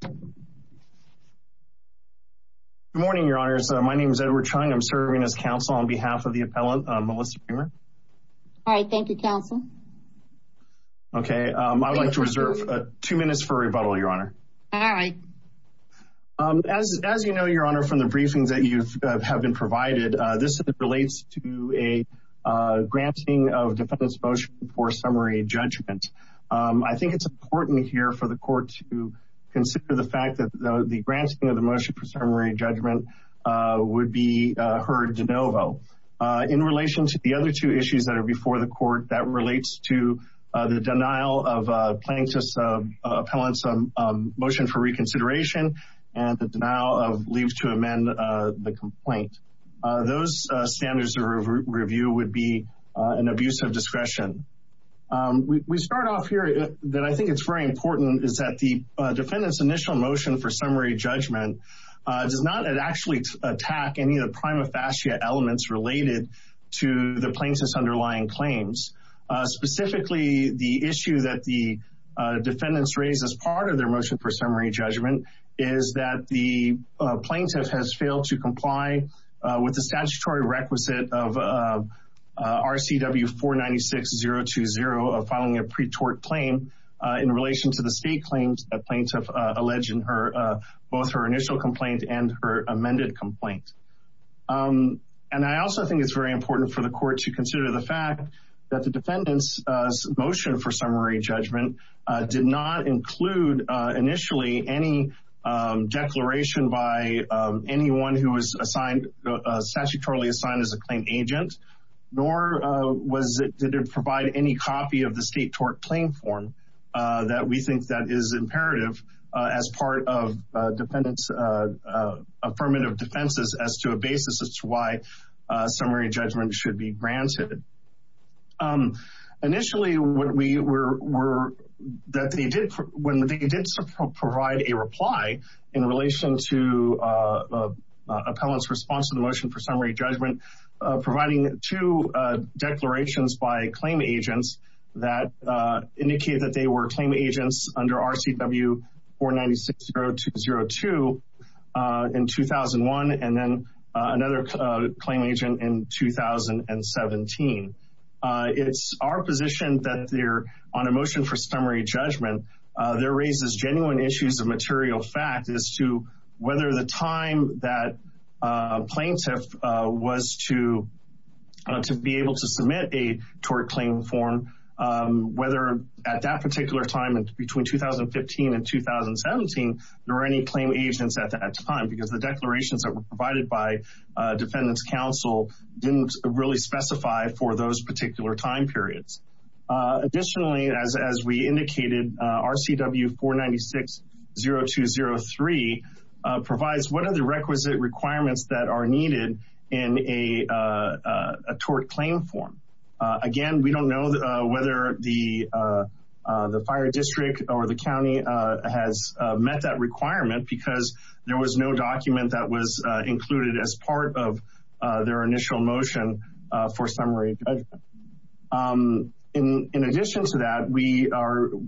Good morning, Your Honors. My name is Edward Chung. I'm serving as counsel on behalf of the appellant, Melissa Reimer. All right. Thank you, counsel. Okay. I would like to reserve two minutes for rebuttal, Your Honor. All right. As you know, Your Honor, from the briefings that you have been provided, this relates to a granting of defendant's motion for summary judgment. I think it's important here for the court to consider the fact that the granting of the motion for summary judgment would be heard de novo. In relation to the other two issues that are before the court, that relates to the denial of plaintiff's motion for reconsideration and the denial of leave to amend the complaint. Those standards of review would be an abuse of discretion. We start off here that I think it's very important is that the defendant's initial motion for summary judgment does not actually attack any of the prima facie elements related to the plaintiff's underlying claims. Specifically, the issue that the defendants raised as part of their motion for summary judgment is that the plaintiff has failed to comply with the statutory requisite of RCW 496-020 of filing a pre-tort claim in relation to the state claims that plaintiff alleged in both her initial complaint and her amended complaint. I also think it's very important for the court to consider the fact that the defendant's motion for summary judgment did not include initially any declaration by anyone who was assigned statutorily assigned as a claim agent, nor did it provide any copy of the state tort claim form that we think that is imperative as part of defendants' affirmative defenses as to a basis as to why summary judgment should be granted. Initially, when they did provide a reply in relation to appellant's response to the motion for summary judgment, providing two declarations by claim agents that indicated that they were claim agents under RCW 496-0202 in 2001 and then another claim agent in 2017. It's our position that on a motion for summary judgment, there raises genuine issues of material fact as to whether the time that plaintiff was to be able to submit a tort claim form, whether at that particular time between 2015 and 2017, there were any claim agents at that time because the declarations that were provided by defendants' counsel didn't really specify for those particular time periods. Additionally, as we indicated, RCW 496-0203 provides what are the whether the fire district or the county has met that requirement because there was no document that was included as part of their initial motion for summary judgment. In addition to that, we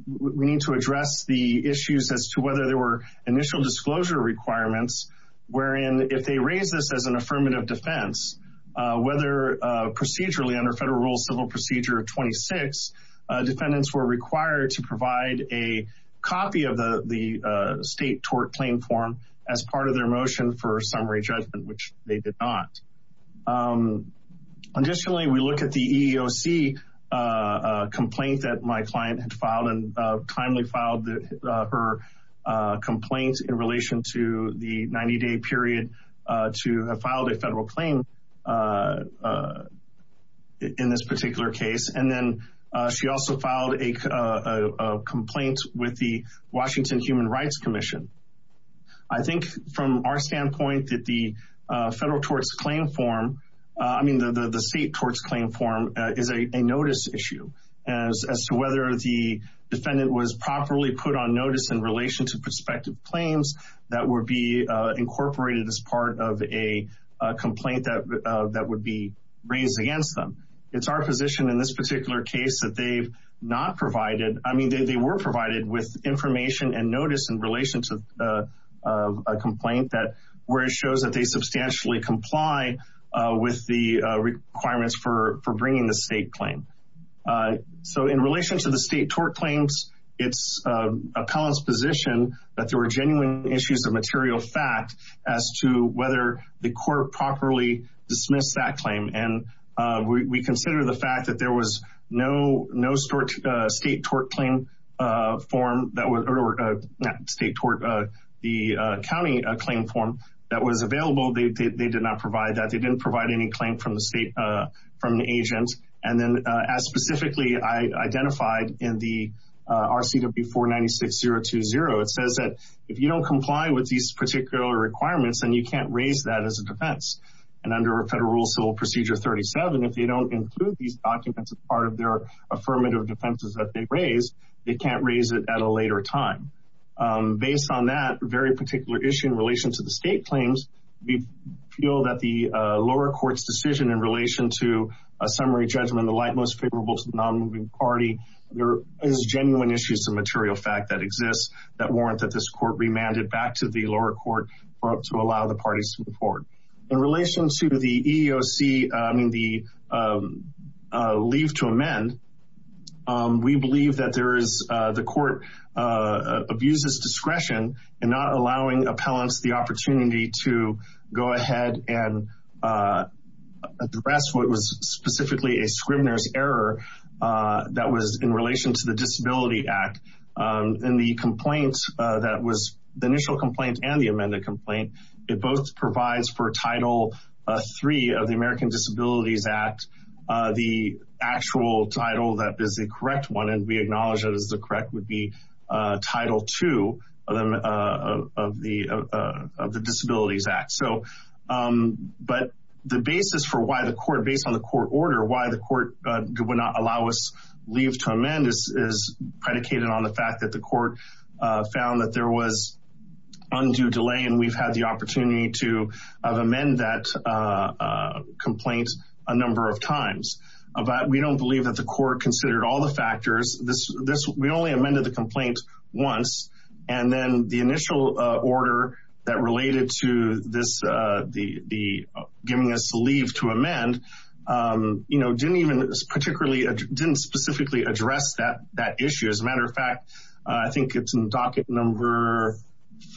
need to address the issues as to whether there were initial disclosure requirements, wherein if they raise this as an affirmative defense, whether procedurally under federal civil procedure of 26, defendants were required to provide a copy of the state tort claim form as part of their motion for summary judgment, which they did not. Additionally, we look at the EEOC complaint that my client had filed and timely filed her complaint in relation to the 90-day period to have filed a federal claim in this particular case, and then she also filed a complaint with the Washington Human Rights Commission. I think from our standpoint that the federal torts claim form, I mean the state torts claim form, is a notice issue as to whether the defendant was properly put on notice in relation to prospective claims that would be incorporated as part of a complaint that would be raised against them. It's our position in this particular case that they've not provided, I mean they were provided with information and notice in relation to a complaint that where it shows that they substantially comply with the requirements for bringing the state claim. So in relation to the state tort claims, it's appellant's position that there were genuine issues of material fact as to whether the court properly dismissed that claim. And we consider the fact that there was no state tort claim form that was, or not state tort, the county claim form that was available. They did not provide that. They didn't provide any 496020. It says that if you don't comply with these particular requirements, then you can't raise that as a defense. And under Federal Rule Civil Procedure 37, if they don't include these documents as part of their affirmative defenses that they raise, they can't raise it at a later time. Based on that very particular issue in relation to the state claims, we feel that the lower court's decision in relation to a summary judgment, the light most favorable to the non-moving party, there is genuine issues of material fact that exists that warrant that this court remanded back to the lower court to allow the parties to move forward. In relation to the EEOC, I mean the leave to amend, we believe that there is, the court abuses discretion in not allowing appellants the opportunity to go ahead and address what was specifically a scriminer's error that was in relation to the Disability Act. In the complaint that was, the initial complaint and the amended complaint, it both provides for Title III of the American Disabilities Act, the actual title that is the correct one, and we acknowledge that is the correct would be Title II of the Disabilities Act. So, but the basis for why the court, based on the court order, why the court would not allow us leave to amend is predicated on the fact that the court found that there was undue delay, and we've had the opportunity to amend that complaint a number of times. But we don't believe that the court considered all the factors. We only amended the complaint once, and then the initial order that related to this, the giving us leave to amend, you know, didn't even particularly, didn't specifically address that issue. As a matter of fact, I think it's in docket number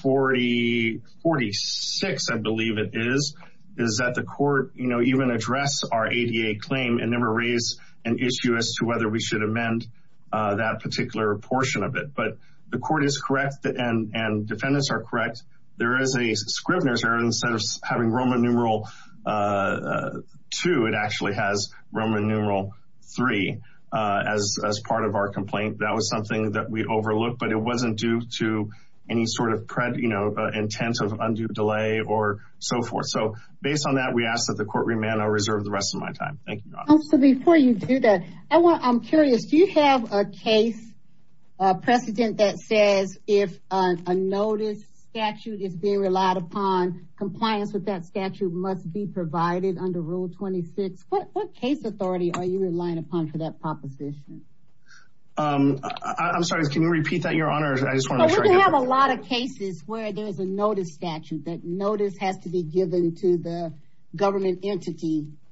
40, 46, I believe it is, is that the court, you know, addressed our ADA claim and never raised an issue as to whether we should amend that particular portion of it. But the court is correct, and defendants are correct, there is a scrivener's error. Instead of having Roman numeral II, it actually has Roman numeral III as part of our complaint. That was something that we overlooked, but it wasn't due to any sort of, you know, intent of undue delay or so forth. So, based on that, we ask that court remand our reserve the rest of my time. Thank you. So, before you do that, I want, I'm curious, do you have a case precedent that says if a notice statute is being relied upon, compliance with that statute must be provided under Rule 26? What case authority are you relying upon for that proposition? I'm sorry, can you repeat that, Your Honor? We have a lot of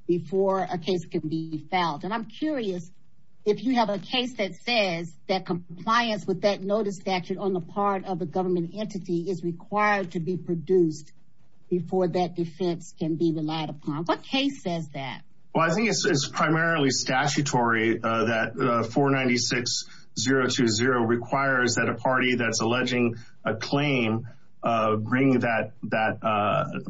before a case can be filed, and I'm curious if you have a case that says that compliance with that notice statute on the part of the government entity is required to be produced before that defense can be relied upon. What case says that? Well, I think it's primarily statutory that 496020 requires that a party that's alleging a claim bring that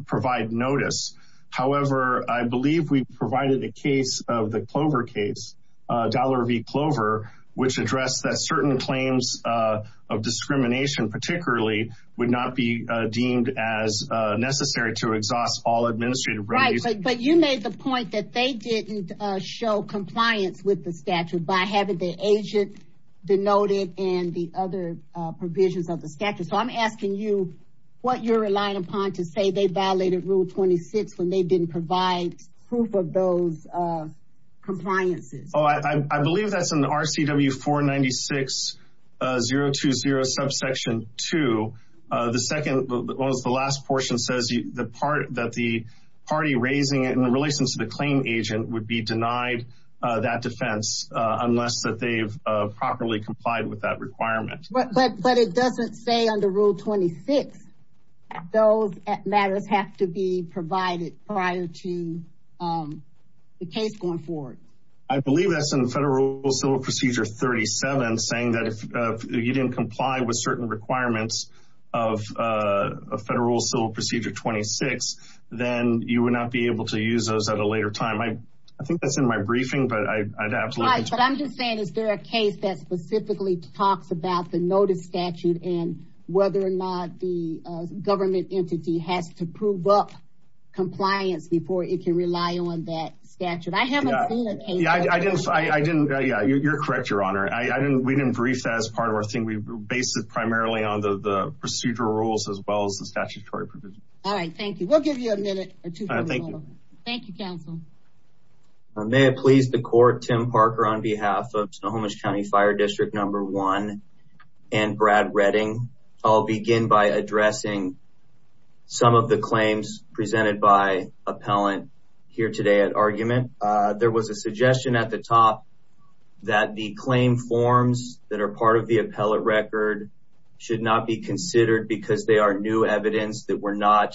provide notice. However, I believe we provided a case of the Clover case, Dollar v. Clover, which addressed that certain claims of discrimination particularly would not be deemed as necessary to exhaust all administrative rights. But you made the point that they didn't show compliance with the statute by having the agent denoted and the other provisions of the statute. So I'm asking you what you're relying upon to say they violated Rule 26 when they didn't provide proof of those compliances. Oh, I believe that's in the RCW 496020 subsection 2. The second, the last portion says the part that the party raising it in relation to the claim agent would be denied that defense unless that they've properly complied with that requirement. But it doesn't say under Rule 26 those matters have to be provided prior to the case going forward. I believe that's in Federal Civil Procedure 37 saying that if you didn't comply with certain requirements of Federal Civil Procedure 26, then you would not be able to use those at a later time. I think that's in my briefing, but I'd absolutely. But I'm just saying, is there a case that specifically talks about the notice statute and whether or not the government entity has to prove up compliance before it can rely on that statute? I haven't seen a case. I didn't. I didn't. Yeah, you're correct, Your Honor. I didn't. We didn't brief that as part of our thing. We based it primarily on the procedural rules as well as the statutory provision. All right, thank you. We'll give you a minute or two. Thank you. Thank you, counsel. May it please the Court, Tim Parker on behalf of Snohomish County Fire District Number 1 and Brad Redding. I'll begin by addressing some of the claims presented by appellant here today at argument. There was a suggestion at the because they are new evidence that were not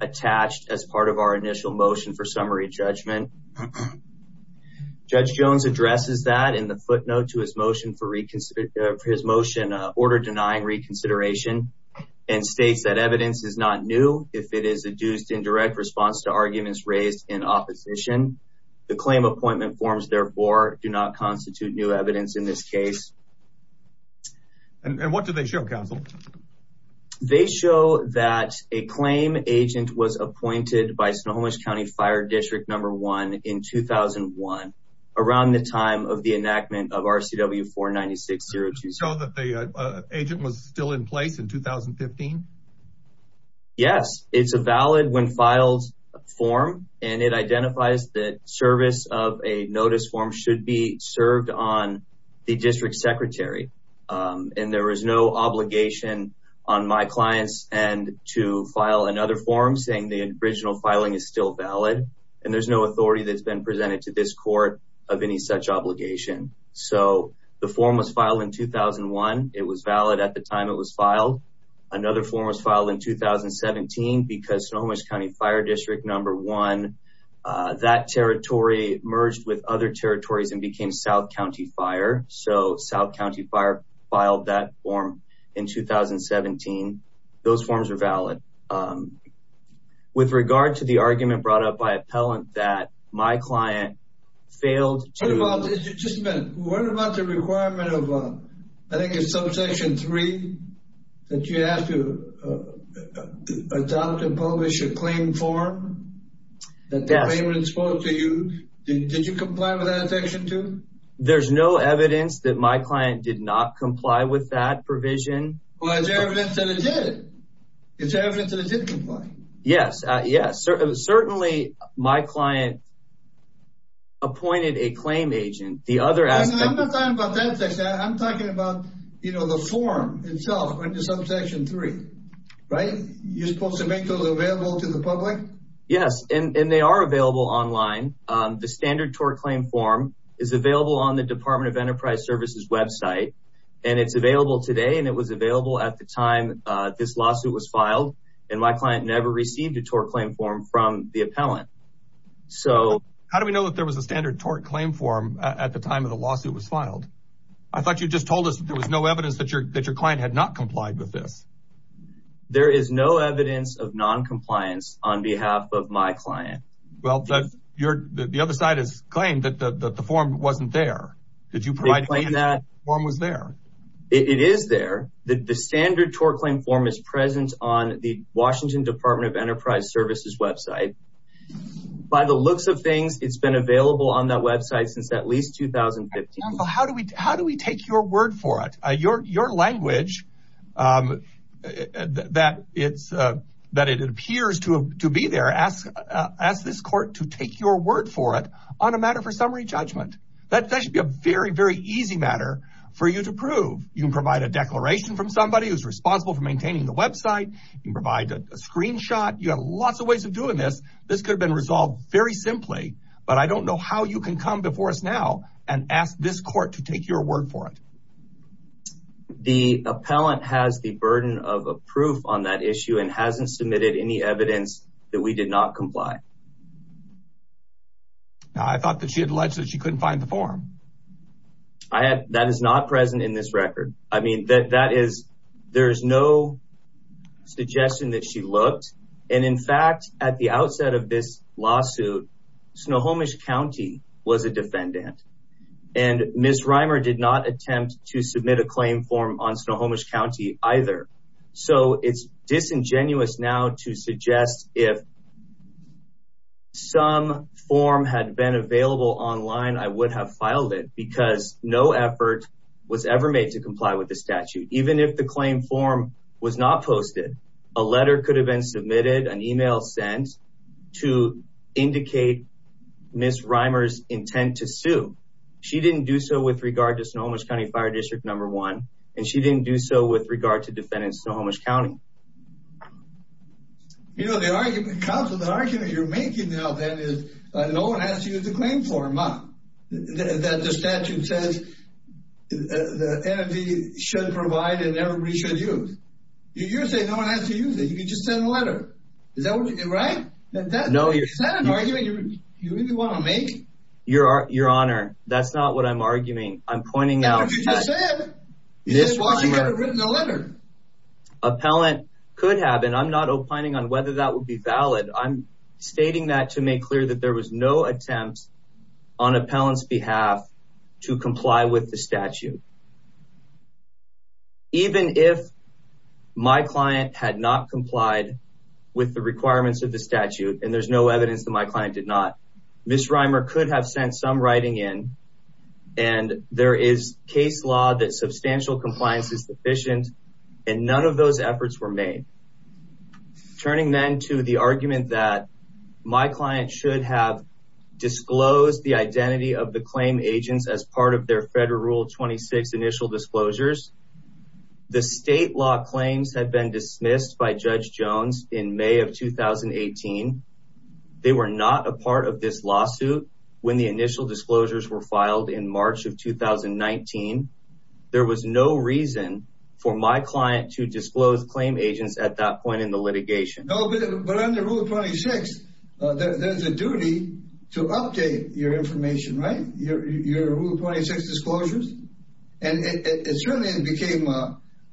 attached as part of our initial motion for summary judgment. Judge Jones addresses that in the footnote to his motion for reconsideration for his motion order denying reconsideration and states that evidence is not new if it is adduced in direct response to arguments raised in opposition. The claim appointment forms therefore do not constitute new evidence in this case. And what do they show, counsel? They show that a claim agent was appointed by Snohomish County Fire District Number 1 in 2001 around the time of the enactment of RCW 49602. So that the agent was still in place in 2015? Yes, it's a valid when filed form and it identifies that service of a notice form should be served on the district secretary. And there is no obligation on my clients and to file another form saying the original filing is still valid. And there's no authority that's been presented to this court of any such obligation. So the form was filed in 2001. It was valid at the time it was filed. Another form was filed in 2017 because Snohomish County Fire District Number 1, that territory merged with other territories and became South County Fire. So South County Fire filed that form in 2017. Those forms are valid. With regard to the argument brought up by appellant that my client failed to- What about, just a minute, what about the requirement of, I think it's subsection 3 that you have to adopt and publish a claim form that the claimant spoke to you? Did you comply with that section too? There's no evidence that my client did not comply with that provision. Well, there's evidence that it did. There's evidence that it did comply. Yes, yes. Certainly my client appointed a claim agent. The other aspect- I'm not talking about that section. I'm talking about the form itself under subsection 3, right? You're supposed to make those available to the public? Yes. And they are available online. The standard tort claim form is available on the Department of Enterprise Services website. And it's available today. And it was available at the time this lawsuit was filed. And my client never received a tort claim form from the appellant. How do we know that there was a standard tort claim form at the time of the lawsuit was filed? I thought you just told us that there was no evidence that your client had not complied with this. There is no evidence of non-compliance on behalf of my client. Well, the other side has claimed that the form wasn't there. Did you provide- They claim that- The form was there. It is there. The standard tort claim form is present on the Washington Department of Enterprise Services website. By the looks of things, it's been available on that website since at least 2015. Well, how do we take your word for it? Your language, that it appears to be there, ask this court to take your word for it on a matter for summary judgment. That should be a very, very easy matter for you to prove. You can provide a declaration from somebody who's responsible for maintaining the website. You can provide a screenshot. You have lots of ways of doing this. This could have been resolved very simply, but I don't know how you can come before us now and ask this court to take your word for it. The appellant has the burden of a proof on that issue and hasn't submitted any evidence that we did not comply. I thought that she had alleged that she couldn't find the form. I had- That is not present in this record. I mean, that is- There's no suggestion that she looked. And in fact, at the outset of this lawsuit, Snohomish County was a defendant. And Ms. Reimer did not attempt to submit a claim form on Snohomish County either. So it's disingenuous now to suggest if some form had been available online, I would have filed it because no effort was ever made to comply with the statute. Even if the claim form was not posted, a letter could have been submitted, an email sent to indicate Ms. Reimer's intent to sue. She didn't do so with regard to Snohomish County Fire District Number One, and she didn't do so with regard to defendants in Snohomish County. You know, the argument- Counsel, the argument you're making now then is no one has to use the claim form that the statute says the NFV should provide and everybody should use. You're saying no one has to use it. You can just send a letter. Is that what you- Right? Is that an argument you really want to make? Your Honor, that's not what I'm arguing. I'm pointing out- But you just said- Ms. Reimer- She could have written a letter. Appellant could have, and I'm not opining on whether that would be valid. I'm stating that to make clear that there was no attempt on appellant's behalf to comply with the statute. Even if my client had not complied with the requirements of the statute, and there's no evidence that my client did not, Ms. Reimer could have sent some writing in, and there is case law that substantial compliance is sufficient, and none of those efforts were made. Turning then to the argument that my client should have disclosed the identity of the claim agents as part of their Federal Rule 26 initial disclosures, the state law claims had been dismissed by Judge Jones in May of 2018. They were not a part of this lawsuit when the initial disclosures were filed in March of 2019. There was no reason for my client to disclose claim agents at that point in the litigation. No, but under Rule 26, there's a duty to update your information, right? Your Rule 26 disclosures, and it certainly became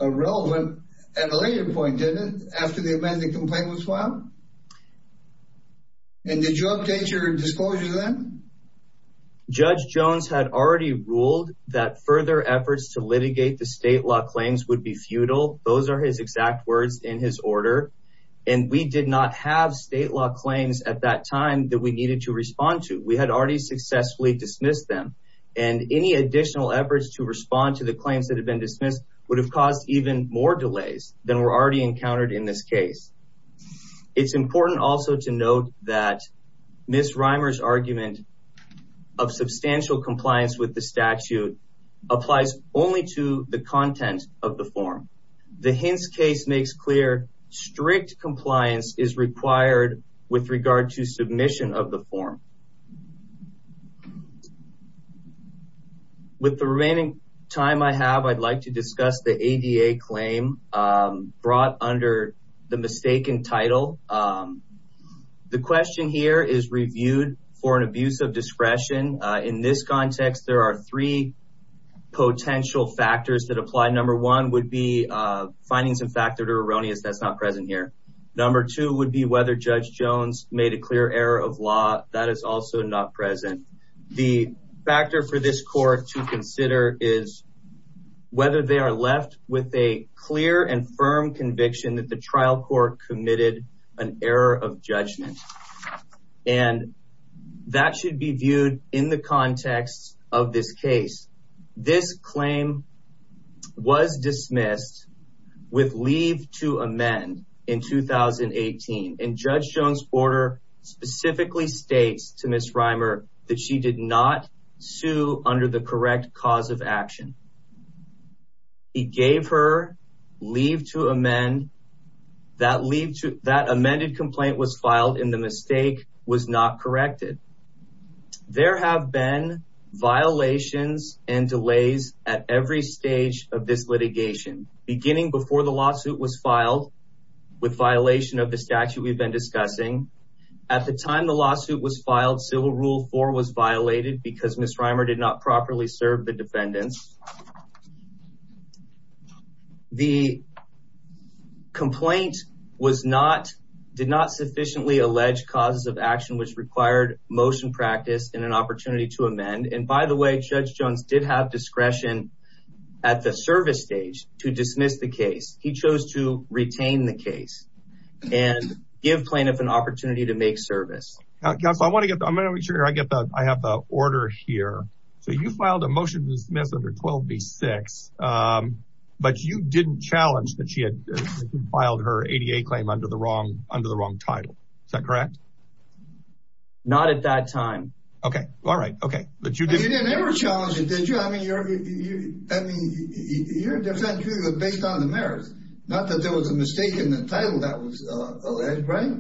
irrelevant at a later point, didn't it? After the amending complaint was filed? And did you update your disclosures then? Judge Jones had already ruled that further efforts to litigate the state law claims would be futile. Those are his exact words in his order, and we did not have state law claims at that time that we needed to respond to. We had already successfully dismissed them, and any additional efforts to respond to the claims that have been dismissed would have caused even more delays than were already encountered in this case. It's important also to note that Ms. Reimer's argument of the Hintz case makes clear strict compliance is required with regard to submission of the form. With the remaining time I have, I'd like to discuss the ADA claim brought under the mistaken title. The question here is reviewed for an abuse of discretion. In this context, there are three factors that apply. Number one would be findings of fact that are erroneous. That's not present here. Number two would be whether Judge Jones made a clear error of law. That is also not present. The factor for this court to consider is whether they are left with a clear and firm conviction that the trial court committed an error of judgment, and that should be viewed in the context of this case. This claim was dismissed with leave to amend in 2018, and Judge Jones' order specifically states to Ms. Reimer that she did not sue under the correct cause of action. He gave her leave to amend. That amended complaint was filed, and the mistake was not corrected. There have been violations and delays at every stage of this litigation, beginning before the lawsuit was filed with violation of the statute we've been discussing. At the time the lawsuit was filed, Civil Rule 4 was violated because Ms. Reimer did not properly which required motion practice and an opportunity to amend. By the way, Judge Jones did have discretion at the service stage to dismiss the case. He chose to retain the case and give plaintiff an opportunity to make service. Counsel, I have the order here. You filed a motion to dismiss under 12B6, but you didn't challenge that she had filed her ADA claim under the wrong title. Is that correct? Not at that time. Okay, all right, okay. But you didn't ever challenge it, did you? I mean, your defense was based on the merits, not that there was a mistake in the title that was alleged, right?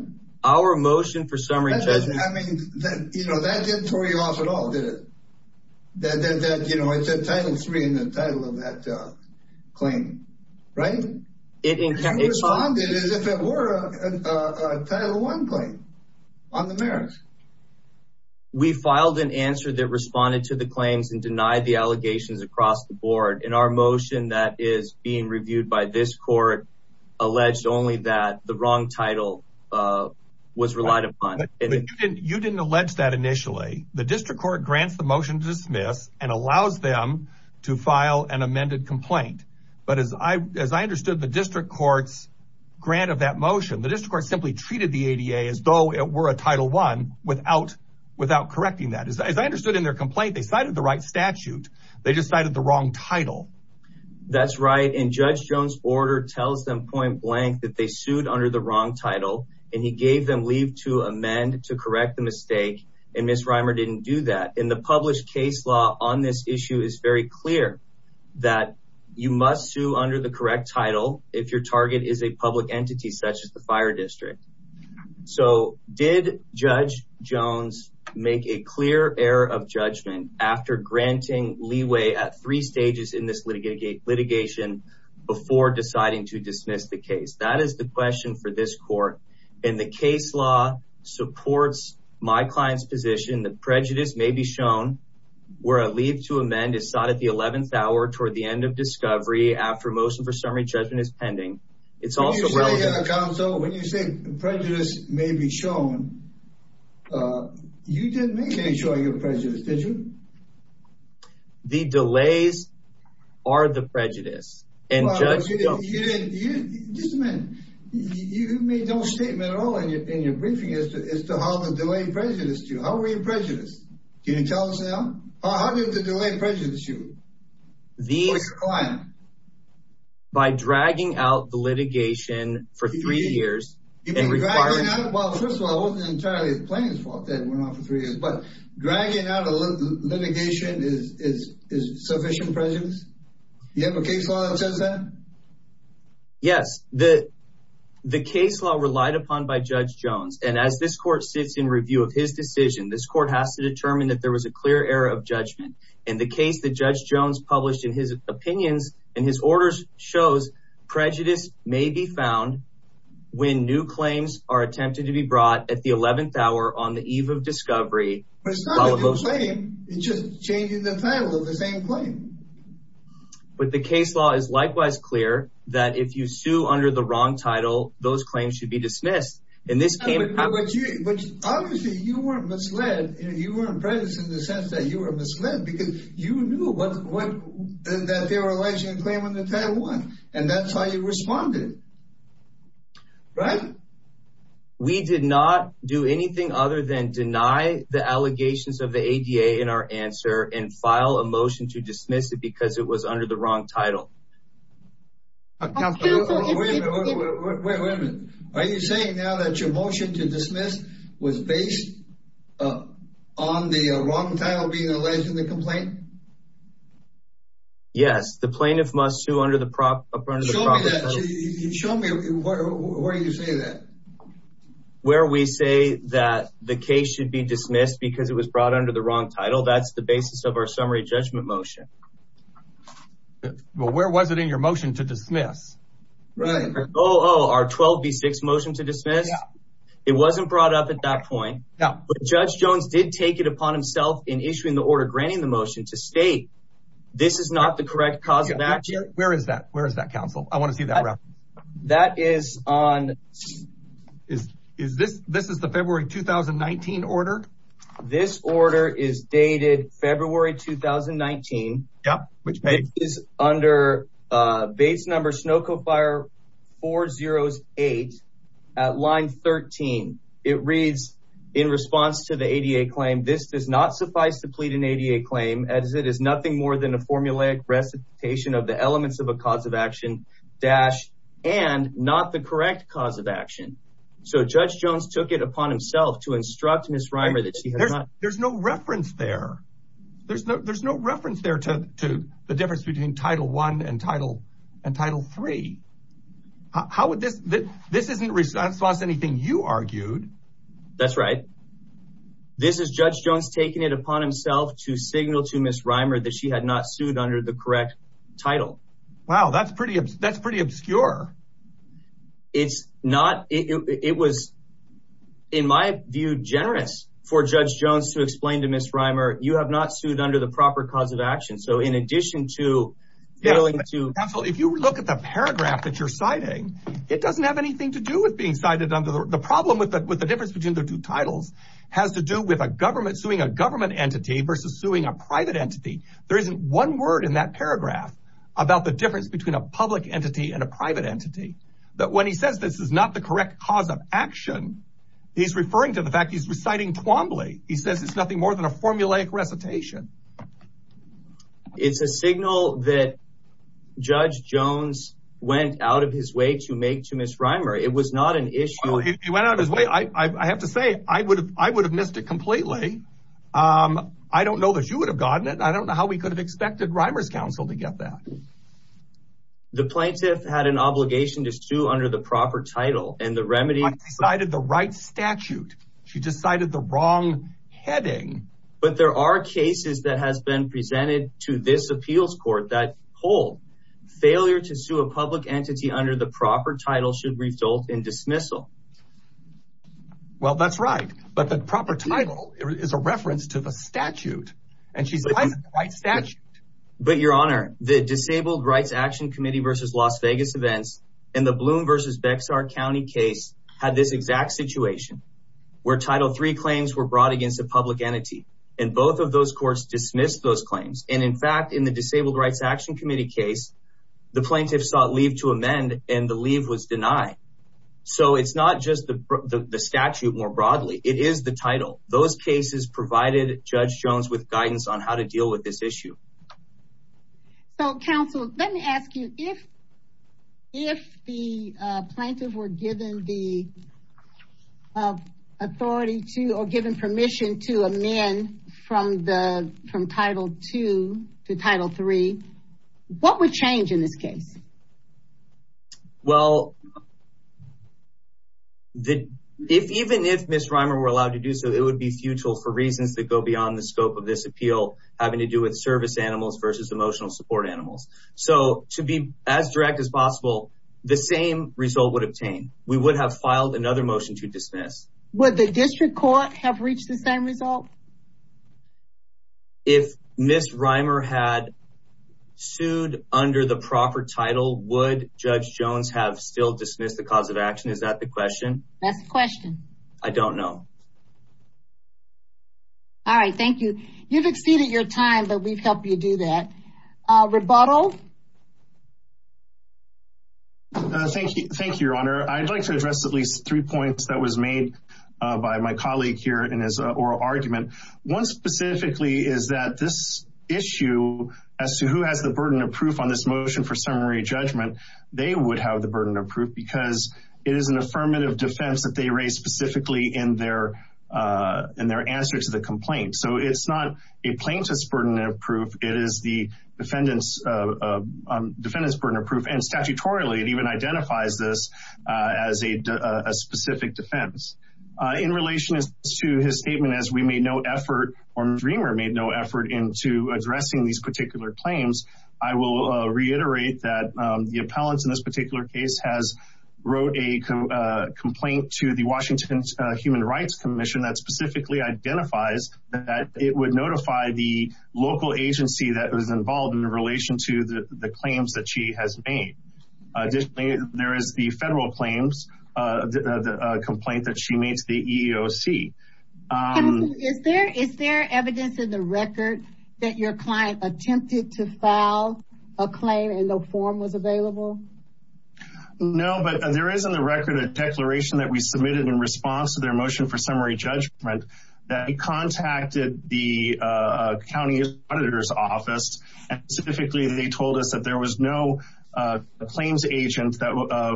Our motion for summary judgment... I mean, you know, that didn't throw you off at all, did it? That, you know, it said Title III in the title of that claim, right? It responded as if it were a Title I claim on the merits. We filed an answer that responded to the claims and denied the allegations across the board. And our motion that is being reviewed by this court alleged only that the wrong title was relied upon. But you didn't allege that initially. The district court grants the motion to dismiss and allows them to file an amended complaint. But as I understood, the district court's grant of that motion, the district court simply treated the ADA as though it were a Title I without correcting that. As I understood in their complaint, they cited the right statute. They just cited the wrong title. That's right. And Judge Jones' order tells them point blank that they sued under the wrong title and he gave them leave to amend to correct the mistake. And Ms. Reimer didn't do that. And the published case on this issue is very clear that you must sue under the correct title if your target is a public entity such as the fire district. So did Judge Jones make a clear error of judgment after granting leeway at three stages in this litigation before deciding to dismiss the case? That is the question for this court. And the case law supports my client's position that a leave to amend is sought at the 11th hour toward the end of discovery after motion for summary judgment is pending. It's also relevant. When you say prejudice may be shown, you didn't make sure you're prejudiced, did you? The delays are the prejudice. And Judge Jones... You made no statement at all in your briefing as to how the delay prejudiced you. How were the delays prejudiced you or your client? By dragging out the litigation for three years. First of all, it wasn't entirely the plaintiff's fault that it went on for three years. But dragging out a litigation is sufficient prejudice? You have a case law that says that? Yes. The case law relied upon by Judge Jones. And as this court sits in review of his decision, this court has to determine that there was a clear error of judgment. And the case that Judge Jones published in his opinions and his orders shows prejudice may be found when new claims are attempted to be brought at the 11th hour on the eve of discovery. But it's not a new claim. It's just changing the title of the same claim. But the case law is likewise clear that if you sue under the wrong title, those claims should be dismissed. Obviously, you weren't misled. You weren't prejudiced in the sense that you were misled because you knew that they were alleging a claim under Title I and that's how you responded. Right? We did not do anything other than deny the allegations of the ADA in our answer and file a motion to dismiss it because it was under the wrong title. Wait a minute. Are you saying now that your motion to dismiss was based on the wrong title being alleged in the complaint? Yes. The plaintiff must sue under the proper... Show me where you say that. Where we say that the case should be dismissed because it was brought under the wrong title. That's the basis of our summary judgment motion. Well, where was it in your motion to dismiss? Right. Oh, our 12B6 motion to dismiss? Yeah. It wasn't brought up at that point. Yeah. But Judge Jones did take it upon himself in issuing the order granting the motion to state this is not the correct cause of action. Where is that? Where is that, counsel? I want to see that reference. That is on... This is the February 2019 order? This order is dated February 2019. Yep. Which page? It is under base number SNOCO Fire 408 at line 13. It reads, in response to the ADA claim, this does not suffice to plead an ADA claim as it is nothing more than a formulaic recitation of the elements of a cause of action, dash, and not the correct cause of action. So Judge Jones took it upon himself to instruct Ms. Reimer that she had not... There's no reference there to the difference between Title I and Title III. This isn't in response to anything you argued. That's right. This is Judge Jones taking it upon himself to signal to Ms. Reimer that she had not sued under the correct title. Wow. That's pretty obscure. It was, in my view, generous for Judge Jones to explain to Ms. Reimer, you have not sued under the proper cause of action. So in addition to... Counsel, if you look at the paragraph that you're citing, it doesn't have anything to do with being cited under... The problem with the difference between the two titles has to do with a government suing a government entity versus suing a private entity. There isn't one word in that paragraph about the difference between a public entity and a private entity. But when he says this is not the correct cause of action, he's referring to the fact he's reciting Twombly. He says it's formulaic recitation. It's a signal that Judge Jones went out of his way to make to Ms. Reimer. It was not an issue... He went out of his way. I have to say, I would have missed it completely. I don't know that you would have gotten it. I don't know how we could have expected Reimer's counsel to get that. The plaintiff had an obligation to sue under the proper title and the remedy... She decided the right statute. She decided the wrong heading. But there are cases that have been presented to this appeals court that hold failure to sue a public entity under the proper title should result in dismissal. Well, that's right. But the proper title is a reference to the statute and she's... But your honor, the Disabled Rights Action Committee versus Las Vegas events and the Bloom versus Bexar County case had this exact situation where Title III claims were brought against a public entity and both of those courts dismissed those claims. And in fact, in the Disabled Rights Action Committee case, the plaintiff sought leave to amend and the leave was denied. So it's not just the statute more broadly. It is the title. Those cases provided Judge Jones with guidance on how to deal with this issue. So, counsel, let me ask you, if the plaintiff were given the authority to or given permission to amend from Title II to Title III, what would change in this case? Well, even if Ms. Reimer were allowed to do so, it would be futile for reasons that go beyond the scope of this appeal having to do with service animals versus emotional support animals. So to be as direct as possible, the same result would obtain. We would have filed another motion to dismiss. Would the district court have reached the same result? If Ms. Reimer had sued under the proper title, would Judge Jones have still dismissed the cause of action? Is that the question? That's the question. I don't know. All right. Thank you. You've exceeded your time, but we've helped you do that. Rebuttal? Thank you, Your Honor. I'd like to address at least three points that was made by my colleague here in his oral argument. One specifically is that this issue as to who has the burden of proof on this motion for summary judgment, they would have the burden of proof because it is an affirmative defense that they raise specifically in their answer to the complaint. So it's not a plaintiff's burden of proof. It is the defendant's burden of proof. And statutorily, it even identifies this as a specific defense. In relation to his statement, as we made no effort or Ms. Reimer made no effort into addressing these particular claims, I will reiterate that the appellant in this particular case has wrote a complaint to the Washington Human Rights Commission that specifically identifies that it would notify the local agency that was involved in relation to the claims that she has made. Additionally, there is the federal claims complaint that she made to the EEOC. Counsel, is there evidence in the record that your client attempted to file a claim and no form was available? No, but there is in the record a declaration that we submitted in response to their motion for summary judgment that we contacted the county auditor's office. Specifically, they told us that there was no claims agent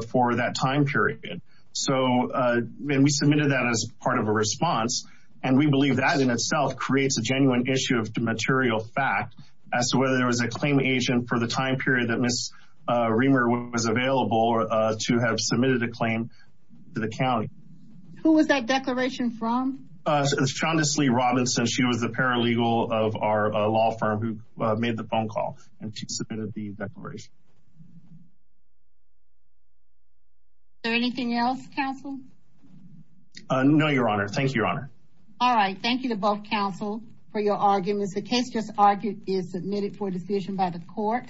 for that time period. And we submitted that as part of a response. And we believe that in itself creates a genuine issue of material fact as to whether there was a claim agent for the time period that Ms. Reimer was available to have submitted a claim to the county. Who was that declaration from? Shonda Slee Robinson. She was the paralegal of our law firm who made the phone call and she submitted the declaration. Is there anything else, counsel? No, your honor. Thank you, your honor. All right. Thank you to both counsel for your arguments. The case just argued is submitted for decision by the court.